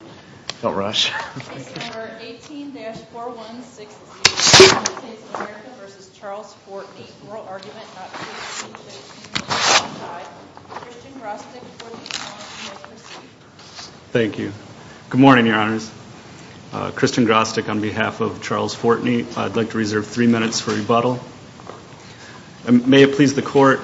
on behalf of Charles Fortney I'd like to reserve three minutes for rebuttal. May it please the court.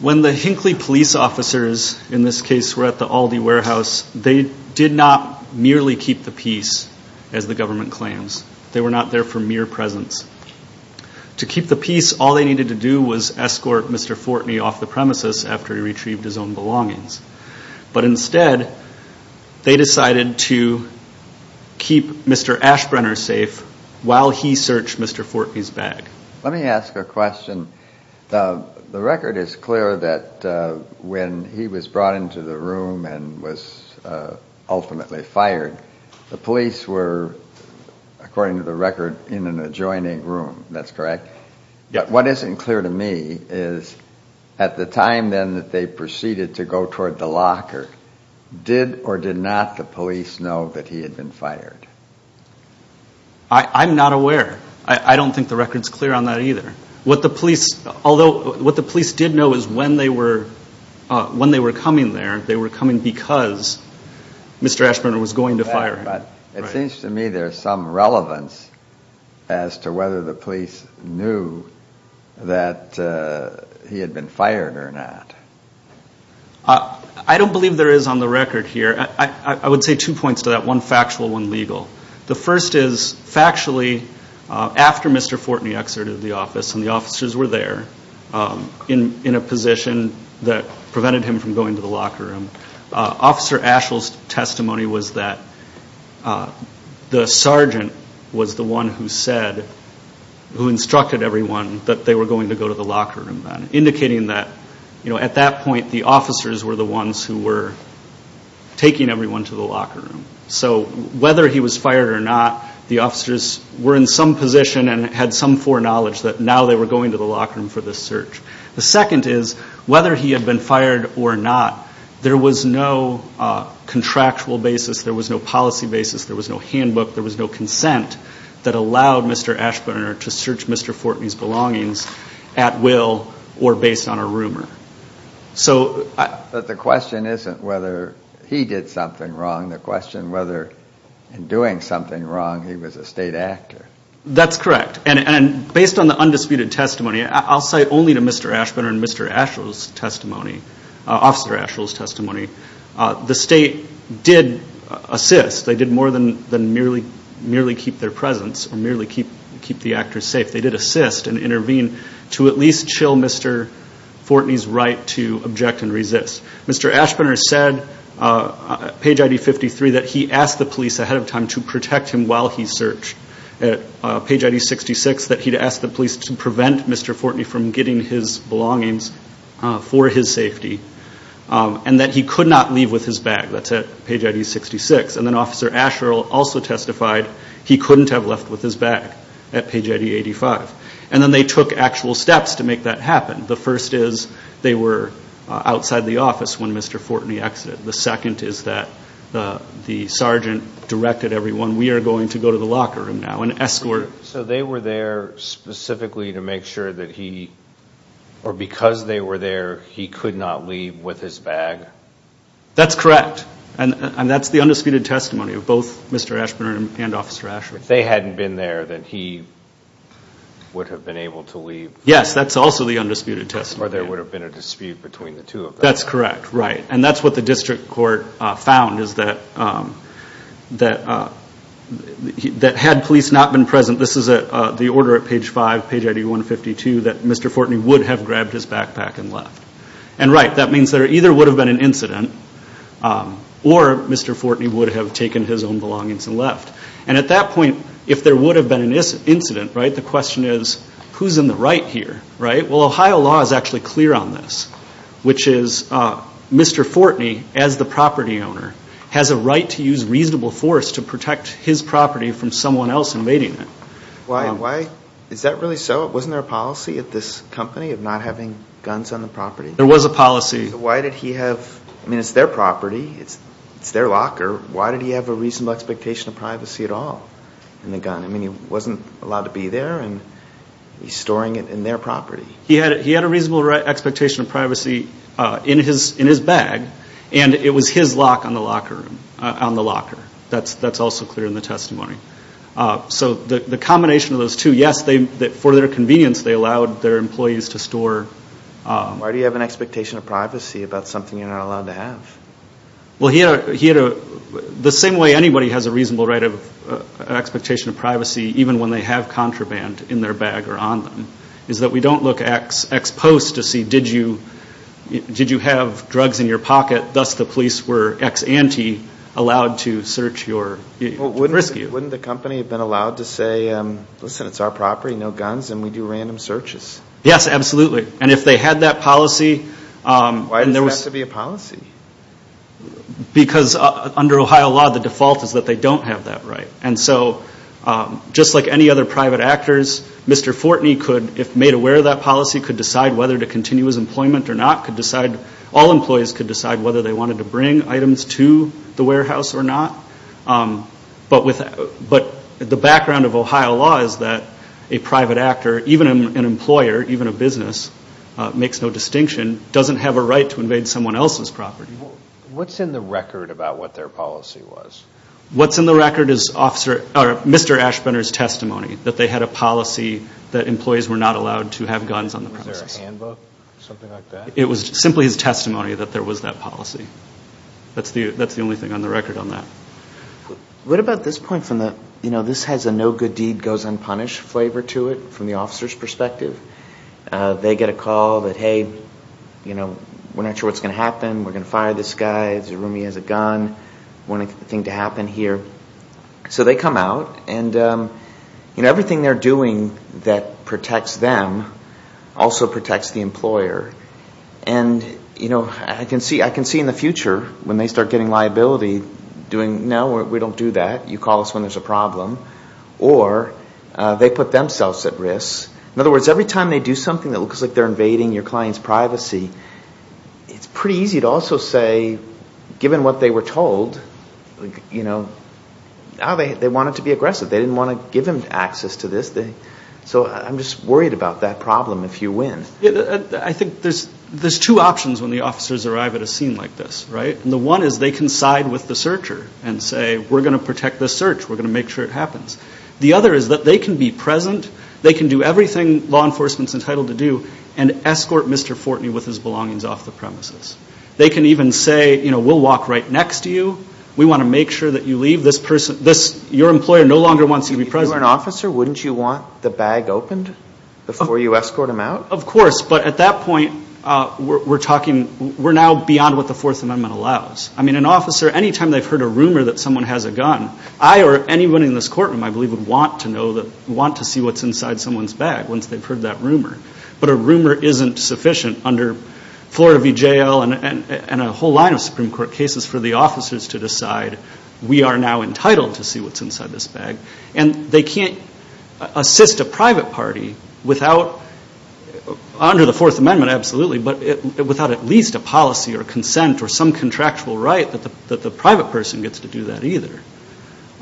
When the Hinkley police officers in this case were at the Aldi warehouse they did not merely keep the peace as the government claims. They were not there for mere presence. To keep the peace all they needed to do was escort Mr. Fortney off the premises after he retrieved his own belongings. But instead they decided to keep Mr. Ashbrenner safe while he searched Mr. Fortney's bag. Let me ask a question. The record is clear that when he was brought into the room and was ultimately fired the police were, according to the record, in an adjoining room. That's correct? Yeah. What isn't clear to me is at the time then that they proceeded to go toward the locker, did or did not the police know that he had been fired? I'm not aware. I don't think the record is clear on that either. What the police, although what the police did know is when they were coming there they were coming because Mr. Ashbrenner was going to fire him. It seems to me there's some relevance as to whether the police knew that he had been fired or not. I don't believe there is on the record here. I would say two points to that. One factual, one legal. The first is factually after Mr. Fortney exited the office and the officers were there in a position that prevented him from going to the locker room, Officer Ashell's testimony was that the sergeant was the one who said, who instructed everyone that they were going to go to the locker room then. Indicating that at that point the officers were the ones who were taking everyone to the locker room. The officers were in some position and had some foreknowledge that now they were going to the locker room for this search. The second is whether he had been fired or not, there was no contractual basis, there was no policy basis, there was no handbook, there was no consent that allowed Mr. Ashbrenner to search Mr. Fortney's belongings at will or based on a rumor. But the question isn't whether he did something wrong, the question is whether in doing something wrong he was a state actor. That's correct and based on the undisputed testimony, I'll say only to Mr. Ashbrenner and Mr. Ashell's testimony, Officer Ashell's testimony, the state did assist, they did more than merely keep their presence or merely keep the actors safe, they did assist and Mr. Ashbrenner said at page ID 53 that he asked the police ahead of time to protect him while he searched at page ID 66 that he'd ask the police to prevent Mr. Fortney from getting his belongings for his safety and that he could not leave with his bag, that's at page ID 66 and then Officer Ashell also testified he couldn't have left with his bag at page ID 85. And then they took actual steps to make that happen, the first is they were outside the office when Mr. Fortney exited, the second is that the sergeant directed everyone we are going to go to the locker room now and escort him. So they were there specifically to make sure that he, or because they were there he could not leave with his bag? That's correct and that's the undisputed testimony of both Mr. Ashbrenner and Officer Ashell. If they hadn't been there then he would have been able to leave? Yes, that's also the undisputed testimony. Or there would have been a dispute between the two of them? That's correct, right, and that's what the district court found is that had police not been present, this is the order at page 5, page ID 152, that Mr. Fortney would have grabbed his backpack and left. And right, that means there either would have been an incident or Mr. Fortney would have taken his own belongings and left. And at that point if there would have been an incident, right, the question is who's in the right here, right, well Ohio law is actually clear on this, which is Mr. Fortney as the property owner has a right to use reasonable force to protect his property from someone else invading it. Why, is that really so? Wasn't there a policy at this company of not having guns on the property? There was a policy. Why did he have, I mean it's their property, it's their locker, why did he have a reasonable expectation of privacy at all in the gun? I mean he wasn't allowed to be there and he's storing it in their property. He had a reasonable expectation of privacy in his bag and it was his lock on the locker, that's also clear in the testimony. So the combination of those two, yes, for their convenience they allowed their employees to store. Why do you have an expectation of privacy about something you're not allowed to have? Well he had a, the same way anybody has a reasonable right of expectation of privacy even when they have contraband in their bag or on them, is that we don't look ex post to see did you have drugs in your pocket, thus the police were ex ante allowed to search your, to rescue. Wouldn't the company have been allowed to say, listen it's our property, no guns, and we do random searches? Yes, absolutely, and if they had that policy. Why does it have to be a policy? Because under Ohio law the default is that they don't have that right, and so just like any other private actors, Mr. Fortney could, if made aware of that policy, could decide whether to continue his employment or not, could decide, all employees could decide whether they wanted to bring items to the warehouse or not, but the background of Ohio law is that a private actor, even an employer, even a business, makes no distinction, doesn't have a right to invade someone else's property. What's in the record about what their policy was? What's in the record is officer, or Mr. Ashbender's testimony, that they had a policy that employees were not allowed to have guns on the premises. Was there a handbook, something like that? It was simply his testimony that there was that policy, that's the only thing on the record on that. What about this point from the, you know, this has a no good deed goes unpunished flavor to it from the officer's perspective. They get a call that, hey, you know, we're not sure what's going to happen, we're going to fire this guy, this roomie has a gun, we don't want anything to happen here. So they come out and, you know, everything they're doing that protects them also protects the employer, and, you know, I can see in the future when they start getting liability doing, no, we don't do that, you call us when there's a problem, or they put themselves at risk. In other words, every time they do something that looks like they're invading your client's privacy, it's pretty easy to also say, given what they were told, you know, ah, they wanted to be aggressive, they didn't want to give them access to this, so I'm just worried about that problem if you win. I think there's two options when the officers arrive at a scene like this, right? And the one is they can side with the searcher and say, we're going to protect this search, we're going to make sure it happens. The other is that they can be present, they can do everything law enforcement's entitled to do, and escort Mr. Fortney with his belongings off the premises. They can even say, you know, we'll walk right next to you, we want to make sure that you leave this person, this, your employer no longer wants you to be present. If you were an officer, wouldn't you want the bag opened before you escort him out? Of course, but at that point, we're talking, we're now beyond what the Fourth Amendment allows. I mean, an officer, any time they've heard a rumor that someone has a gun, I or anyone in this courtroom, I believe, would want to know, want to see what's inside someone's bag once they've heard that rumor. But a rumor isn't sufficient under Florida v. J.L. and a whole line of Supreme Court cases for the officers to decide, we are now entitled to see what's inside this bag. And they can't assist a private party without, under the Fourth Amendment, absolutely, but without at least a policy or consent or some contractual right that the private person gets to do that either.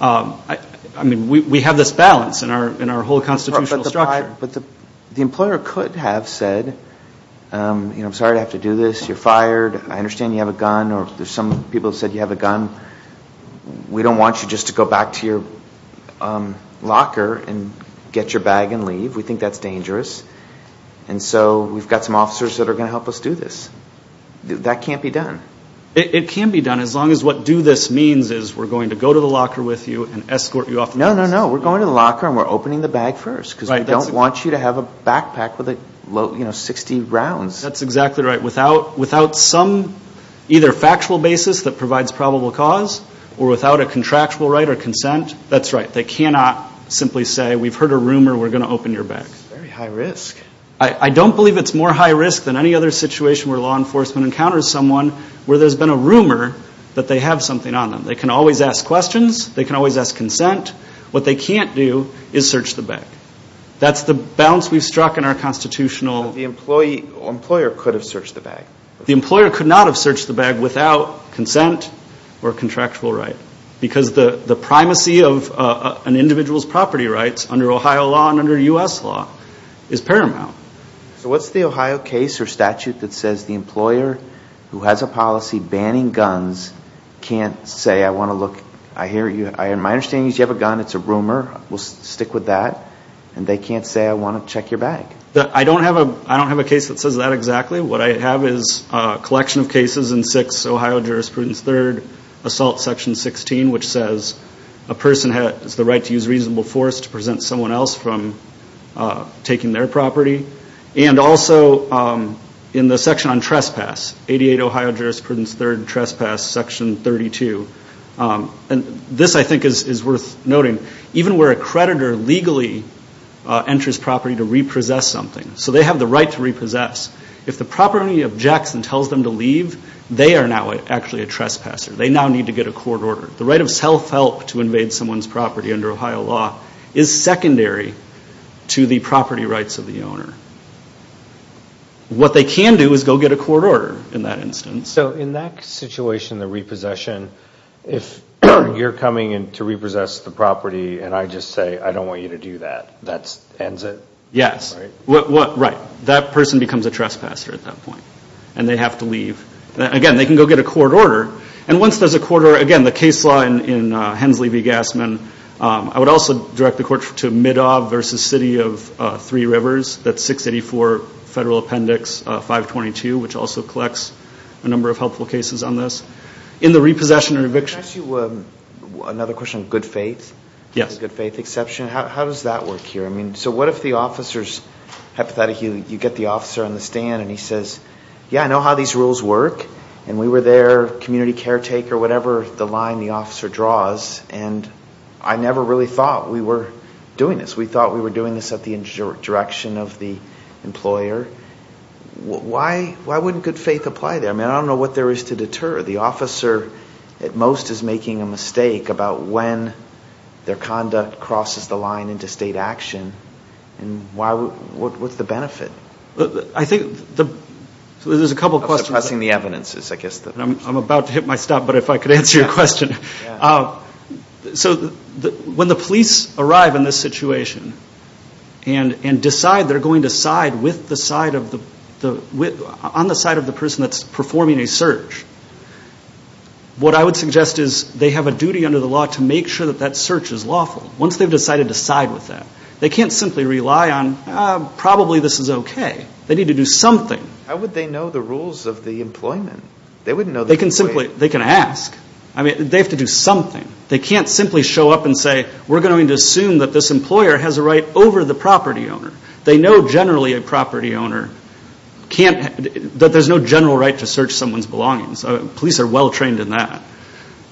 I mean, we have this balance in our whole constitutional structure. But the employer could have said, you know, I'm sorry to have to do this, you're fired, I understand you have a gun, or there's some people who said you have a gun, we don't want you just to go back to your locker and get your bag and leave. We think that's dangerous. And so we've got some officers that are going to help us do this. That can't be done. It can be done as long as what do this means is we're going to go to the locker with you and escort you off. No, no, no. We're going to the locker and we're opening the bag first because we don't want you to have a backpack with, you know, 60 rounds. That's exactly right. Without some either factual basis that provides probable cause or without a contractual right or consent, that's right, they cannot simply say, we've heard a rumor, we're going to open your bag. That's very high risk. I don't believe it's more high risk than any other situation where law enforcement encounters someone where there's been a rumor that they have something on them. They can always ask questions, they can always ask consent. What they can't do is search the bag. That's the balance we've struck in our constitutional. The employee or employer could have searched the bag. The employer could not have searched the bag without consent or contractual right. Because the primacy of an individual's property rights under Ohio law and under U.S. law is paramount. So what's the Ohio case or statute that says the employer who has a policy banning guns can't say I want to look, I hear you, my understanding is you have a gun, it's a rumor, we'll stick with that, and they can't say I want to check your bag. I don't have a case that says that exactly. What I have is a collection of cases in 6 Ohio jurisprudence 3rd assault section 16 which says a person has the right to use reasonable force to prevent someone else from taking their property. And also in the section on trespass, 88 Ohio jurisprudence 3rd trespass section 32. This I think is worth noting. Even where a creditor legally enters property to repossess something. So they have the right to repossess. If the property objects and tells them to leave, they are now actually a trespasser. They now need to get a court order. The right of self-help to invade someone's property under Ohio law is secondary to the property rights of the owner. What they can do is go get a court order in that instance. So in that situation, the repossession, if you're coming in to repossess the property and I just say I don't want you to do that, that ends it? Yes. Right. That person becomes a trespasser at that point. And they have to leave. Again, they can go get a court order. And once there's a court order, again, the case law in Hensley v. Gassman, I would also direct the court to Middob v. City of Three Rivers, that's 684 Federal Appendix 522, which also collects a number of helpful cases on this. In the repossession and eviction. Can I ask you another question on good faith? Yes. Good faith exception. How does that work here? So what if the officer's, hypothetically, you get the officer on the stand and he says, yeah, I know how these rules work, and we were there, community caretaker, whatever the line the officer draws, and I never really thought we were doing this. We thought we were doing this at the direction of the employer. Why wouldn't good faith apply there? I don't know what there is to deter. The officer, at most, is making a mistake about when their conduct crosses the line into state action, and what's the benefit of suppressing the evidences? I'm about to hit my stop, but if I could answer your question. So when the police arrive in this situation and decide they're going to side with the side of the, on the side of the person that's performing a search, what I would suggest is they have a duty under the law to make sure that that search is lawful. Once they've decided to side with that, they can't simply rely on, probably this is okay. They need to do something. How would they know the rules of the employment? They wouldn't know the way. They can simply, they can ask. I mean, they have to do something. They can't simply show up and say, we're going to assume that this employer has a right over the property owner. They know, generally, a property owner can't, that there's no general right to search someone's belongings. Police are well trained in that.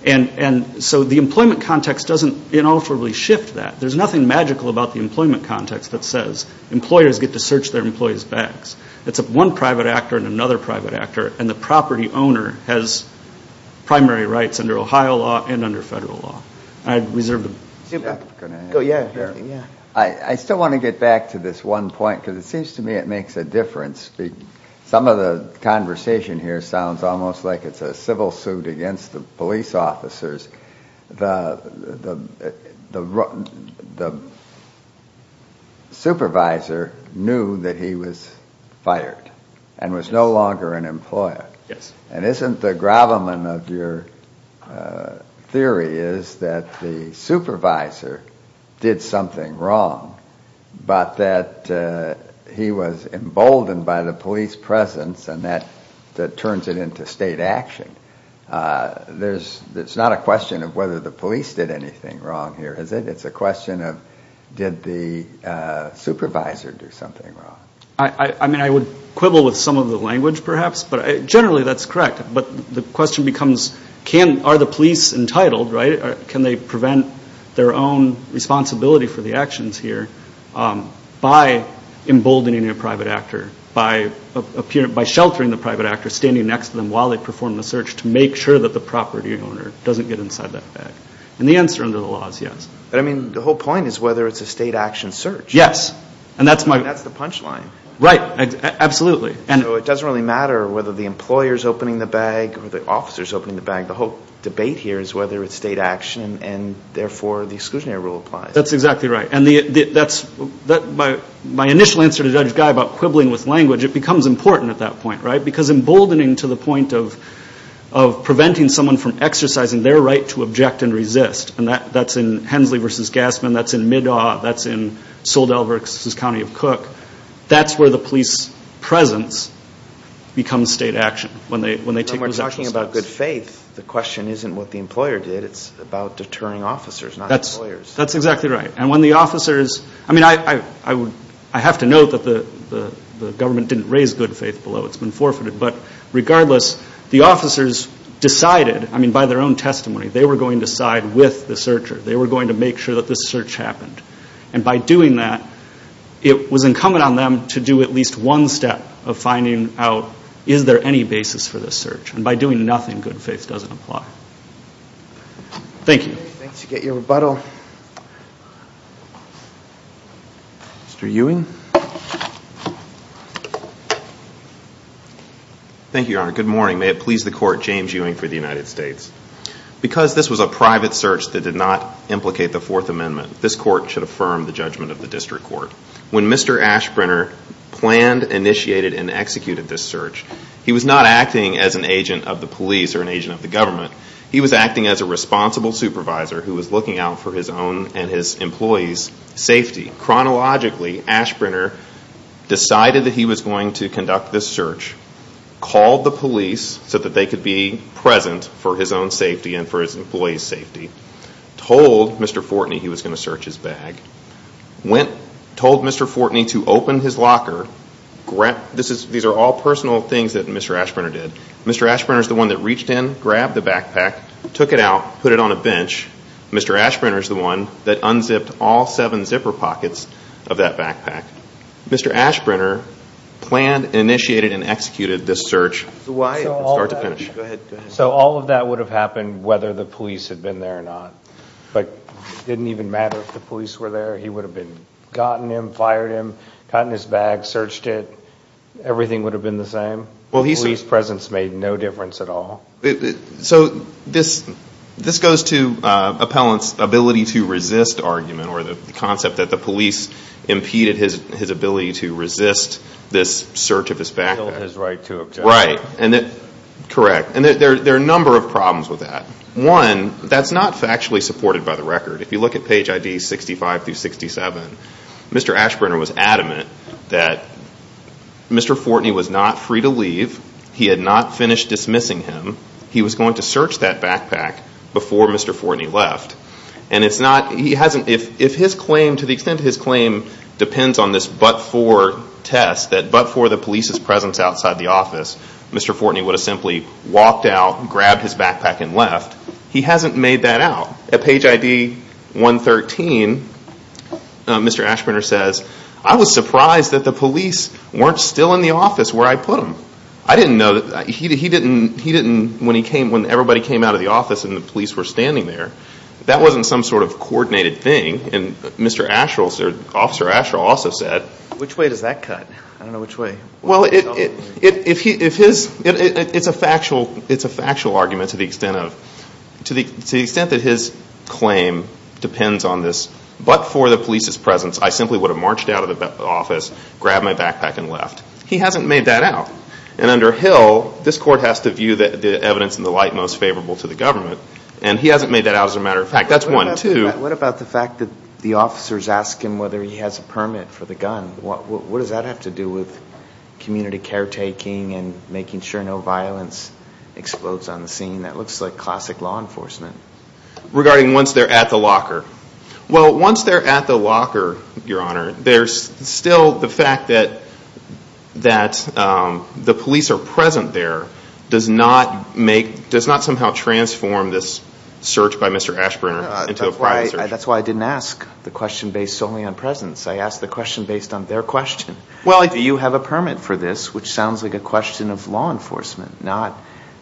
And so the employment context doesn't inalterably shift that. There's nothing magical about the employment context that says employers get to search their employees' bags. It's one private actor and another private actor, and the property owner has primary rights under Ohio law and under federal law. I reserve the. Super. Can I add? Yeah. I still want to get back to this one point, because it seems to me it makes a difference. Some of the conversation here sounds almost like it's a civil suit against the police officers. The supervisor knew that he was fired and was no longer an employer. And isn't the gravamen of your theory is that the supervisor did something wrong, but that he was emboldened by the police presence and that turns it into state action? It's not a question of whether the police did anything wrong here, is it? It's a question of did the supervisor do something wrong? I mean, I would quibble with some of the language, perhaps, but generally that's correct. But the question becomes, are the police entitled, right? Can they prevent their own responsibility for the actions here by emboldening a private actor, by sheltering the private actor, standing next to them while they perform the search to make sure that the property owner doesn't get inside that bag? And the answer under the law is yes. I mean, the whole point is whether it's a state action search. Yes. And that's the punchline. Right. Absolutely. So it doesn't really matter whether the employer's opening the bag or the officer's opening the bag. The whole debate here is whether it's state action and therefore the exclusionary rule applies. That's exactly right. And that's my initial answer to Judge Guy about quibbling with language. It becomes important at that point, right? Because emboldening to the point of preventing someone from exercising their right to object and resist, and that's in Hensley v. Gassman, that's in Middaw, that's in Soel Delver v. County of Cook, that's where the police presence becomes state action when they take those actions. When you're talking about good faith, the question isn't what the employer did. It's about deterring officers, not employers. That's exactly right. And when the officers, I mean, I have to note that the government didn't raise good faith below. It's been forfeited. But regardless, the officers decided, I mean, by their own testimony, they were going to side with the searcher. They were going to make sure that this search happened. And by doing that, it was incumbent on them to do at least one step of finding out, is there any basis for this search? And by doing nothing, good faith doesn't apply. Thank you. Thanks. You get your rebuttal. Mr. Ewing? Thank you, Your Honor. Good morning. May it please the Court, James Ewing for the United States. Because this was a private search that did not implicate the Fourth Amendment, this Court should affirm the judgment of the District Court. When Mr. Ashbrenner planned, initiated, and executed this search, he was not acting as an agent of the police or an agent of the government. He was acting as a responsible supervisor who was looking out for his own and his employees' safety. Chronologically, Ashbrenner decided that he was going to conduct this search, called the police so that they could be present for his own safety and for his employees' safety, told Mr. Fortney he was going to search his bag, went, told Mr. Fortney to open his locker. These are all personal things that Mr. Ashbrenner did. Mr. Ashbrenner is the one that reached in, grabbed the backpack, took it out, put it on a bench. Mr. Ashbrenner is the one that unzipped all seven zipper pockets of that backpack. Mr. Ashbrenner planned, initiated, and executed this search from start to finish. So all of that would have happened whether the police had been there or not. But it didn't even matter if the police were there. He would have gotten him, fired him, gotten his bag, searched it. Everything would have been the same. The police presence made no difference at all. So this goes to Appellant's ability to resist argument or the concept that the police impeded his ability to resist this search of his backpack. Killed his right to object. Right. Correct. And there are a number of problems with that. One, that's not factually supported by the record. If you look at page ID 65 through 67, Mr. Ashbrenner was adamant that Mr. Fortney was not free to leave. He had not finished dismissing him. He was going to search that backpack before Mr. Fortney left. And it's not, he hasn't, if his claim, to the extent his claim depends on this but-for test, that but-for the police's presence outside the office, Mr. Fortney would have simply walked out, grabbed his backpack and left. He hasn't made that out. At page ID 113, Mr. Ashbrenner says, I was surprised that the police weren't still in the office where I put them. I didn't know, he didn't, he didn't, when he came, when everybody came out of the office and the police were standing there, that wasn't some sort of coordinated thing. And Mr. Asherill, Officer Asherill also said- Which way does that cut? I don't know which way. Well, if his, it's a factual argument to the extent of, to the extent that his claim depends on this but-for the police's presence, I simply would have marched out of the office, grabbed my backpack and left. He hasn't made that out. And under Hill, this court has to view the evidence in the light most favorable to the government. And he hasn't made that out as a matter of fact. That's one. What about the fact that the officers ask him whether he has a permit for the gun? What does that have to do with community caretaking and making sure no violence explodes on the scene? That looks like classic law enforcement. Regarding once they're at the locker. Well, once they're at the locker, Your Honor, there's still the fact that, that the police are present there does not make, does not somehow transform this search by Mr. Ashburner into a private search. That's why I didn't ask the question based solely on presence. I asked the question based on their question. Do you have a permit for this? Which sounds like a question of law enforcement, not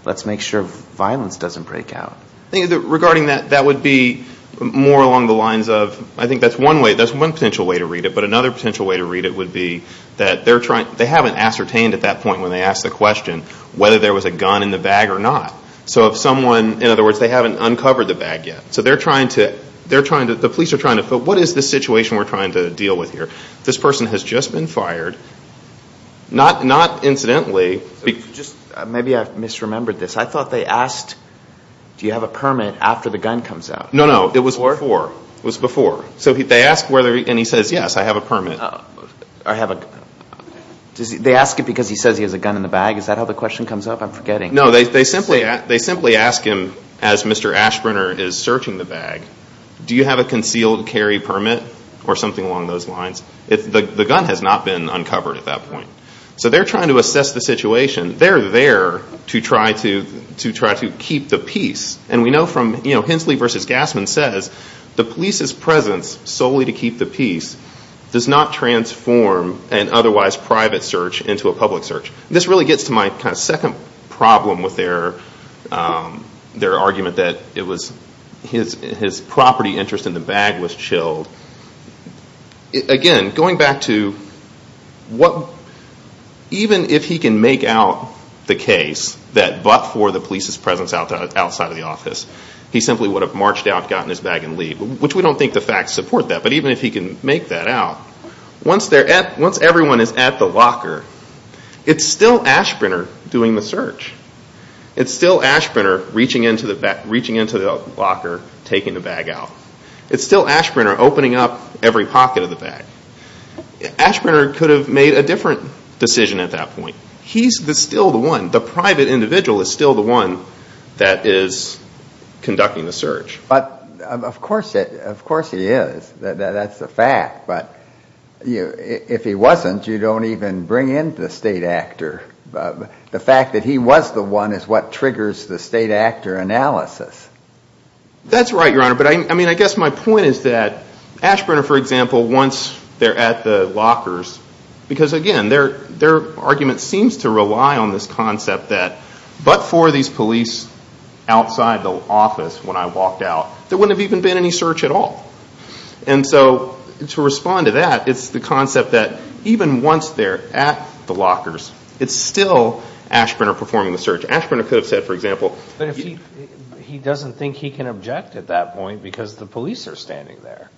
let's make sure violence doesn't break out. Regarding that, that would be more along the lines of, I think that's one way, that's one potential way to read it. But another potential way to read it would be that they're trying, they haven't ascertained at that point when they asked the question whether there was a gun in the bag or not. So if someone, in other words, they haven't uncovered the bag yet. So they're trying to, they're trying to, the police are trying to, so what is the situation we're trying to deal with here? This person has just been fired, not incidentally. Maybe I misremembered this. I thought they asked, do you have a permit after the gun comes out? No, no, it was before. So they asked whether, and he says, yes, I have a permit. They ask it because he says he has a gun in the bag? Is that how the question comes up? I'm forgetting. No, they simply ask him as Mr. Ashburner is searching the bag, do you have a concealed carry permit or something along those lines? The gun has not been uncovered at that point. So they're trying to assess the situation. They're there to try to keep the peace. And we know from Hensley v. Gassman says, the police's presence solely to keep the peace does not transform an otherwise private search into a public search. This really gets to my second problem with their argument that it was his property interest in the bag was chilled. Again, going back to what, even if he can make out the case that but for the police's presence outside of the office, he simply would have marched out, gotten his bag and leave, which we don't think the facts support that. But even if he can make that out, once everyone is at the locker, it's still Ashburner doing the search. It's still Ashburner reaching into the locker, taking the bag out. It's still Ashburner opening up every pocket of the bag. Ashburner could have made a different decision at that point. He's still the one. The private individual is still the one that is conducting the search. But of course he is. That's a fact. But if he wasn't, you don't even bring in the state actor. The fact that he was the one is what triggers the state actor analysis. That's right, Your Honor. But I guess my point is that Ashburner, for example, once they're at the lockers, because again, their argument seems to rely on this concept that but for these police outside the office when I walked out, there wouldn't have even been any search at all. And so to respond to that, it's the concept that even once they're at the lockers, it's still Ashburner performing the search. Ashburner could have said, for example, But he doesn't think he can object at that point because the police are standing there.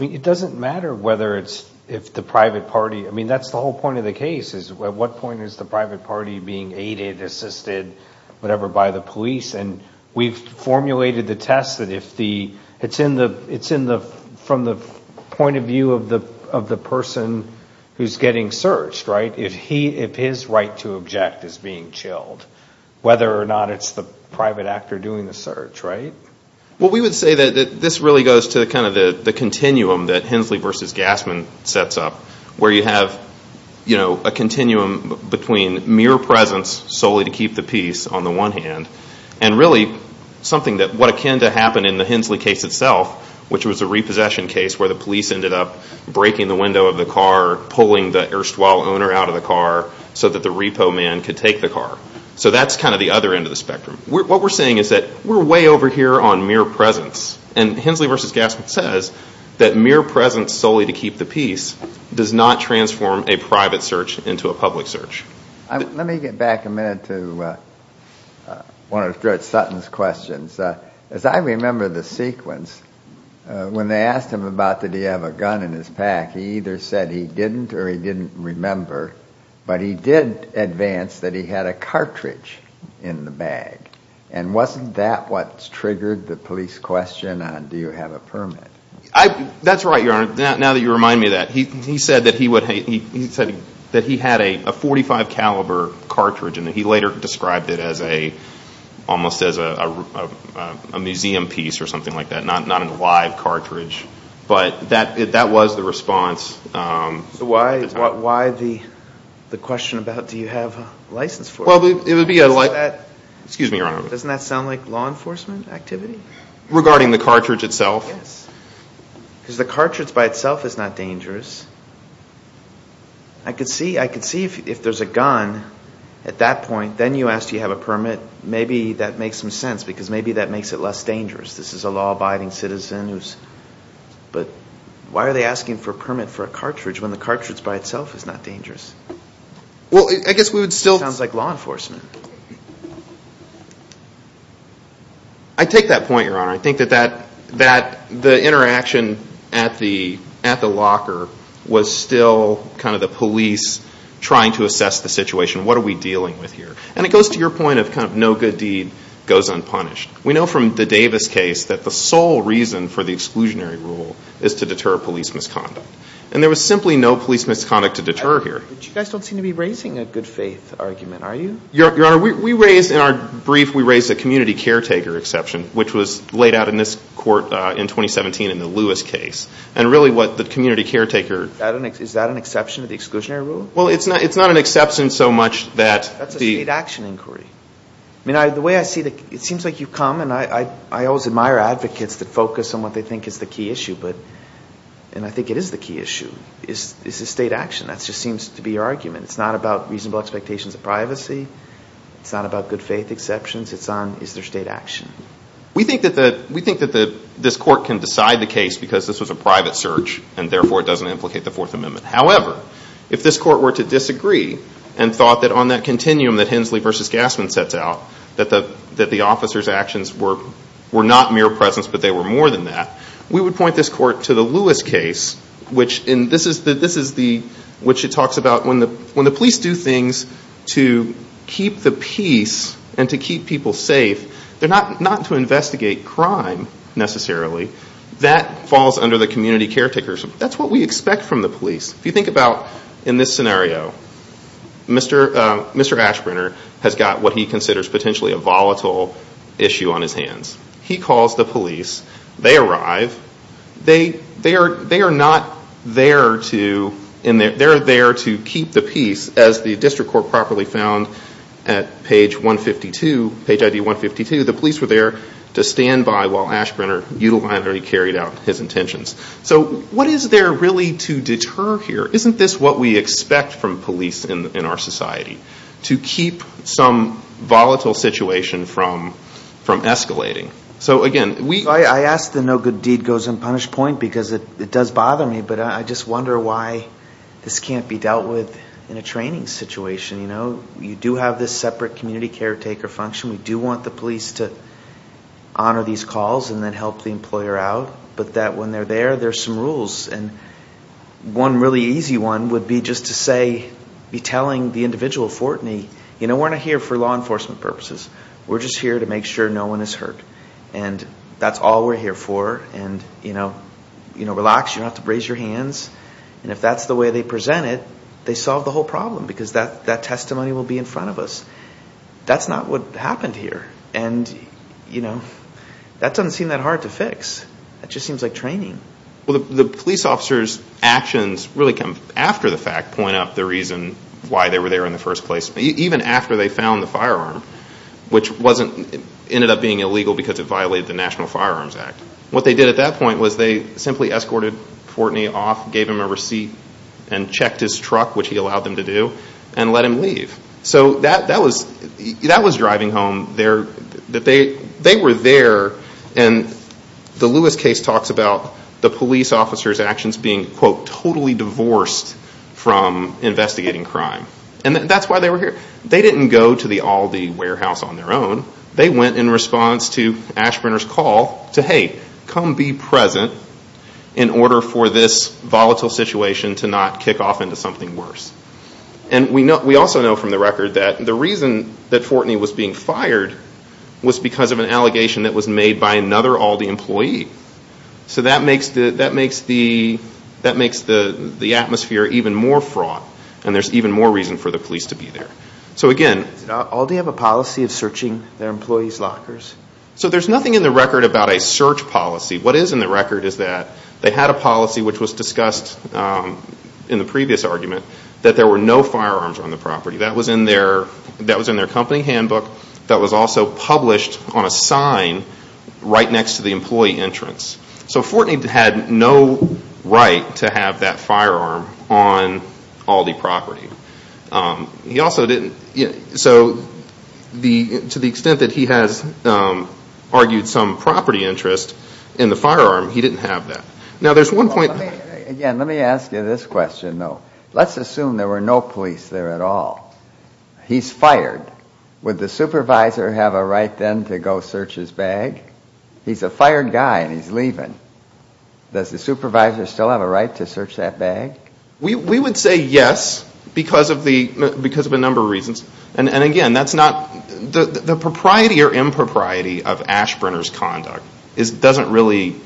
It doesn't matter whether it's the private party. I mean, that's the whole point of the case is at what point is the private party being aided, assisted, whatever, by the police. And we've formulated the test that if the it's from the point of view of the person who's getting searched, right? If his right to object is being chilled, whether or not it's the private actor doing the search, right? Well, we would say that this really goes to kind of the continuum that Hensley v. Gassman sets up, where you have a continuum between mere presence, solely to keep the peace, on the one hand, and really something that what akin to happened in the Hensley case itself, which was a repossession case where the police ended up breaking the window of the car, pulling the erstwhile owner out of the car so that the repo man could take the car. So that's kind of the other end of the spectrum. What we're saying is that we're way over here on mere presence. And Hensley v. Gassman says that mere presence solely to keep the peace does not transform a private search into a public search. Let me get back a minute to one of Judge Sutton's questions. As I remember the sequence, when they asked him about did he have a gun in his pack, he either said he didn't or he didn't remember, but he did advance that he had a cartridge in the bag. And wasn't that what triggered the police question on do you have a permit? That's right, Your Honor. Now that you remind me of that, he said that he had a .45 caliber cartridge and that he later described it almost as a museum piece or something like that, not a live cartridge. But that was the response. So why the question about do you have a license for it? Well, it would be a license. Excuse me, Your Honor. Doesn't that sound like law enforcement activity? Regarding the cartridge itself? Yes. Because the cartridge by itself is not dangerous. I could see if there's a gun at that point. Then you asked do you have a permit. Maybe that makes some sense because maybe that makes it less dangerous. This is a law-abiding citizen. But why are they asking for a permit for a cartridge when the cartridge by itself is not dangerous? Well, I guess we would still – It sounds like law enforcement. I take that point, Your Honor. I think that the interaction at the locker was still kind of the police trying to assess the situation. What are we dealing with here? And it goes to your point of kind of no good deed goes unpunished. We know from the Davis case that the sole reason for the exclusionary rule is to deter police misconduct. And there was simply no police misconduct to deter here. But you guys don't seem to be raising a good faith argument, are you? Your Honor, in our brief, we raised a community caretaker exception, which was laid out in this court in 2017 in the Lewis case. And really what the community caretaker – Is that an exception to the exclusionary rule? Well, it's not an exception so much that the – That's a state action inquiry. I mean, the way I see it, it seems like you've come, and I always admire advocates that focus on what they think is the key issue. And I think it is the key issue. Is this state action? That just seems to be your argument. It's not about reasonable expectations of privacy. It's not about good faith exceptions. It's on is there state action. We think that this court can decide the case because this was a private search, and therefore it doesn't implicate the Fourth Amendment. However, if this court were to disagree and thought that on that continuum that Hensley v. Gassman sets out, that the officers' actions were not mere presence but they were more than that, we would point this court to the Lewis case, which it talks about when the police do things to keep the peace and to keep people safe. They're not to investigate crime necessarily. That falls under the community caretakers. That's what we expect from the police. If you think about in this scenario, Mr. Ashbrenner has got what he considers potentially a volatile issue on his hands. He calls the police. They arrive. They are not there to – As the district court properly found at page 152, page ID 152, the police were there to stand by while Ashbrenner utilitarianly carried out his intentions. So what is there really to deter here? Isn't this what we expect from police in our society, to keep some volatile situation from escalating? I ask the no good deed goes unpunished point because it does bother me, but I just wonder why this can't be dealt with in a training situation. You do have this separate community caretaker function. We do want the police to honor these calls and then help the employer out, but that when they're there, there are some rules. One really easy one would be just to say, be telling the individual, Fortney, we're not here for law enforcement purposes. We're just here to make sure no one is hurt. That's all we're here for. Relax. You don't have to raise your hands. And if that's the way they present it, they solve the whole problem because that testimony will be in front of us. That's not what happened here. And that doesn't seem that hard to fix. That just seems like training. The police officers' actions really come after the fact point out the reason why they were there in the first place, even after they found the firearm, which ended up being illegal because it violated the National Firearms Act. What they did at that point was they simply escorted Fortney off, gave him a receipt, and checked his truck, which he allowed them to do, and let him leave. So that was driving home. They were there, and the Lewis case talks about the police officers' actions being, quote, totally divorced from investigating crime. And that's why they were here. They didn't go to the Aldi warehouse on their own. They went in response to Ashburner's call to, hey, come be present in order for this volatile situation to not kick off into something worse. And we also know from the record that the reason that Fortney was being fired was because of an allegation that was made by another Aldi employee. So that makes the atmosphere even more fraught, and there's even more reason for the police to be there. Did Aldi have a policy of searching their employees' lockers? So there's nothing in the record about a search policy. What is in the record is that they had a policy, which was discussed in the previous argument, that there were no firearms on the property. That was in their company handbook. That was also published on a sign right next to the employee entrance. So Fortney had no right to have that firearm on Aldi property. He also didn't. So to the extent that he has argued some property interest in the firearm, he didn't have that. Now, there's one point. Again, let me ask you this question, though. Let's assume there were no police there at all. He's fired. Would the supervisor have a right then to go search his bag? He's a fired guy and he's leaving. Does the supervisor still have a right to search that bag? We would say yes because of a number of reasons. Again, the propriety or impropriety of Ashbrenner's conduct doesn't really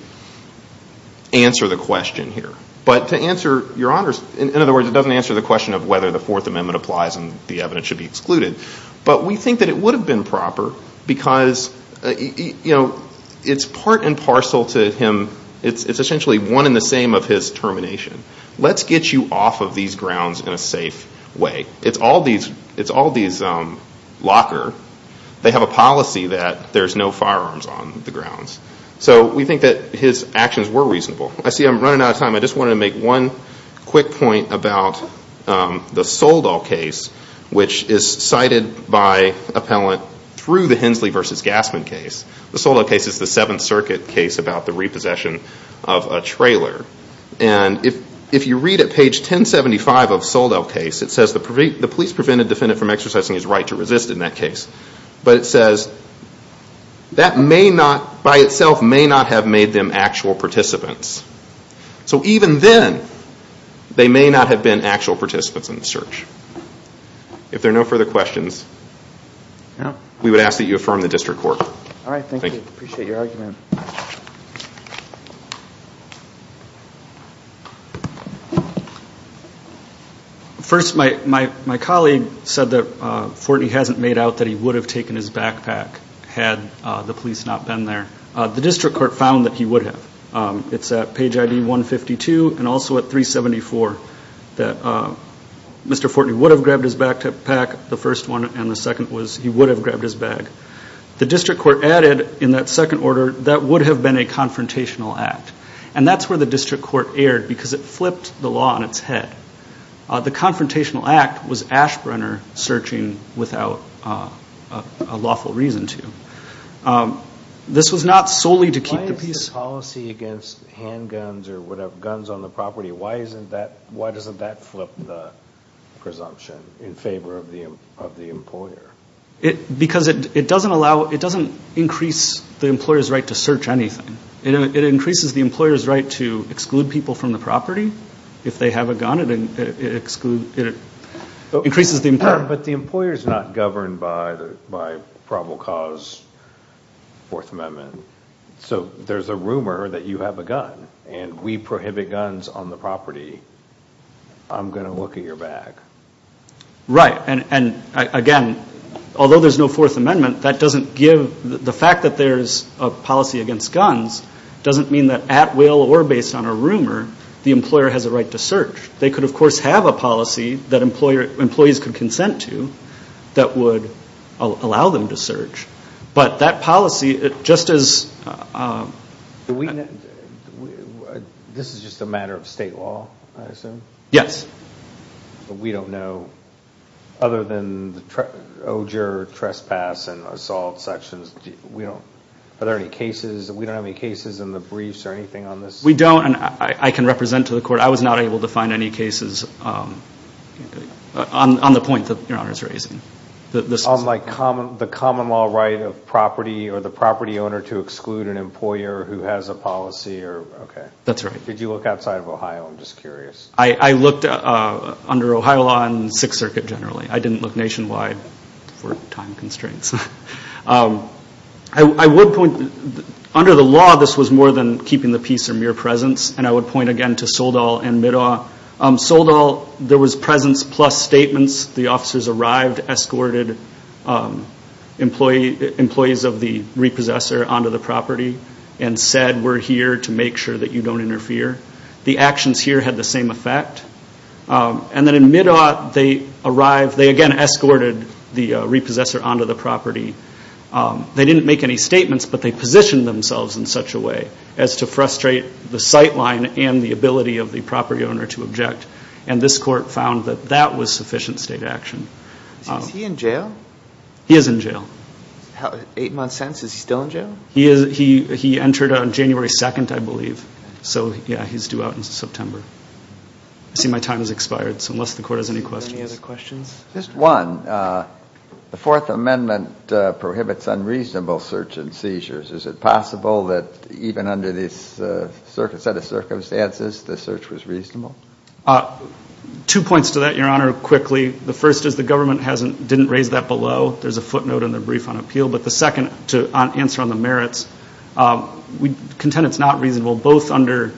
answer the question here. But to answer your honors, in other words, it doesn't answer the question of whether the Fourth Amendment applies and the evidence should be excluded. But we think that it would have been proper because it's part and parcel to him. It's essentially one and the same of his termination. Let's get you off of these grounds in a safe way. It's all these locker. They have a policy that there's no firearms on the grounds. So we think that his actions were reasonable. I see I'm running out of time. I just wanted to make one quick point about the Soldall case, which is cited by appellant through the Hensley v. Gassman case. The Soldall case is the Seventh Circuit case about the repossession of a trailer. And if you read at page 1075 of the Soldall case, it says the police prevent a defendant from exercising his right to resist in that case. But it says that by itself may not have made them actual participants. So even then, they may not have been actual participants in the search. If there are no further questions, we would ask that you affirm the district court. All right, thank you. Appreciate your argument. First, my colleague said that Fortney hasn't made out that he would have taken his backpack had the police not been there. The district court found that he would have. It's at page ID 152 and also at 374 that Mr. Fortney would have grabbed his backpack, the first one, and the second was he would have grabbed his bag. The district court added in that second order that would have been a confrontational act. And that's where the district court erred because it flipped the law on its head. The confrontational act was Ashbrenner searching without a lawful reason to. This was not solely to keep the peace. Why is the policy against handguns or whatever, guns on the property, why doesn't that flip the presumption in favor of the employer? Because it doesn't increase the employer's right to search anything. It increases the employer's right to exclude people from the property. If they have a gun, it increases the employer. But the employer is not governed by Provo Cause Fourth Amendment. So there's a rumor that you have a gun and we prohibit guns on the property. I'm going to look at your bag. Right. And, again, although there's no Fourth Amendment, that doesn't give the fact that there's a policy against guns doesn't mean that at will or based on a rumor the employer has a right to search. They could, of course, have a policy that employees could consent to that would allow them to search. But that policy, just as – This is just a matter of state law, I assume? Yes. We don't know, other than the ogre, trespass, and assault sections, are there any cases – we don't have any cases in the briefs or anything on this? We don't, and I can represent to the court. I was not able to find any cases on the point that Your Honor is raising. On the common law right of property or the property owner to exclude an employer who has a policy? That's right. Did you look outside of Ohio? I'm just curious. I looked under Ohio law and Sixth Circuit generally. I didn't look nationwide for time constraints. I would point – under the law, this was more than keeping the peace or mere presence, and I would point again to Soldall and Middaw. Soldall, there was presence plus statements. The officers arrived, escorted employees of the repossessor onto the property, and said, we're here to make sure that you don't interfere. The actions here had the same effect. And then in Middaw, they arrived, they again escorted the repossessor onto the property. They didn't make any statements, but they positioned themselves in such a way as to frustrate the sight line and the ability of the property owner to object, and this court found that that was sufficient state action. Is he in jail? He is in jail. Eight months sentence, is he still in jail? He entered on January 2nd, I believe. So, yeah, he's due out in September. I see my time has expired, so unless the court has any questions. Any other questions? Just one. The Fourth Amendment prohibits unreasonable search and seizures. Is it possible that even under this set of circumstances, the search was reasonable? Two points to that, Your Honor, quickly. The first is the government didn't raise that below. There's a footnote in the brief on appeal. But the second, to answer on the merits, we contend it's not reasonable, both under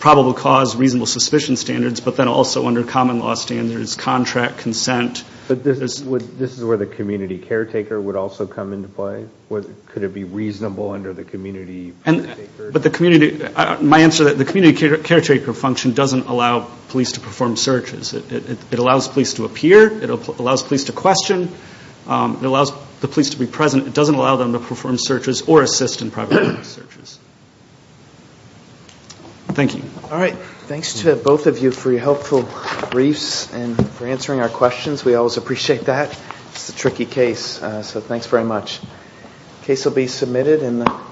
probable cause, reasonable suspicion standards, but then also under common law standards, contract, consent. But this is where the community caretaker would also come into play? Could it be reasonable under the community caretaker? But the community, my answer to that, the community caretaker function doesn't allow police to perform searches. It allows police to appear. It allows police to question. It allows the police to be present. It doesn't allow them to perform searches or assist in private searches. Thank you. All right. Thanks to both of you for your helpful briefs and for answering our questions. We always appreciate that. It's a tricky case, so thanks very much. The case will be submitted in the...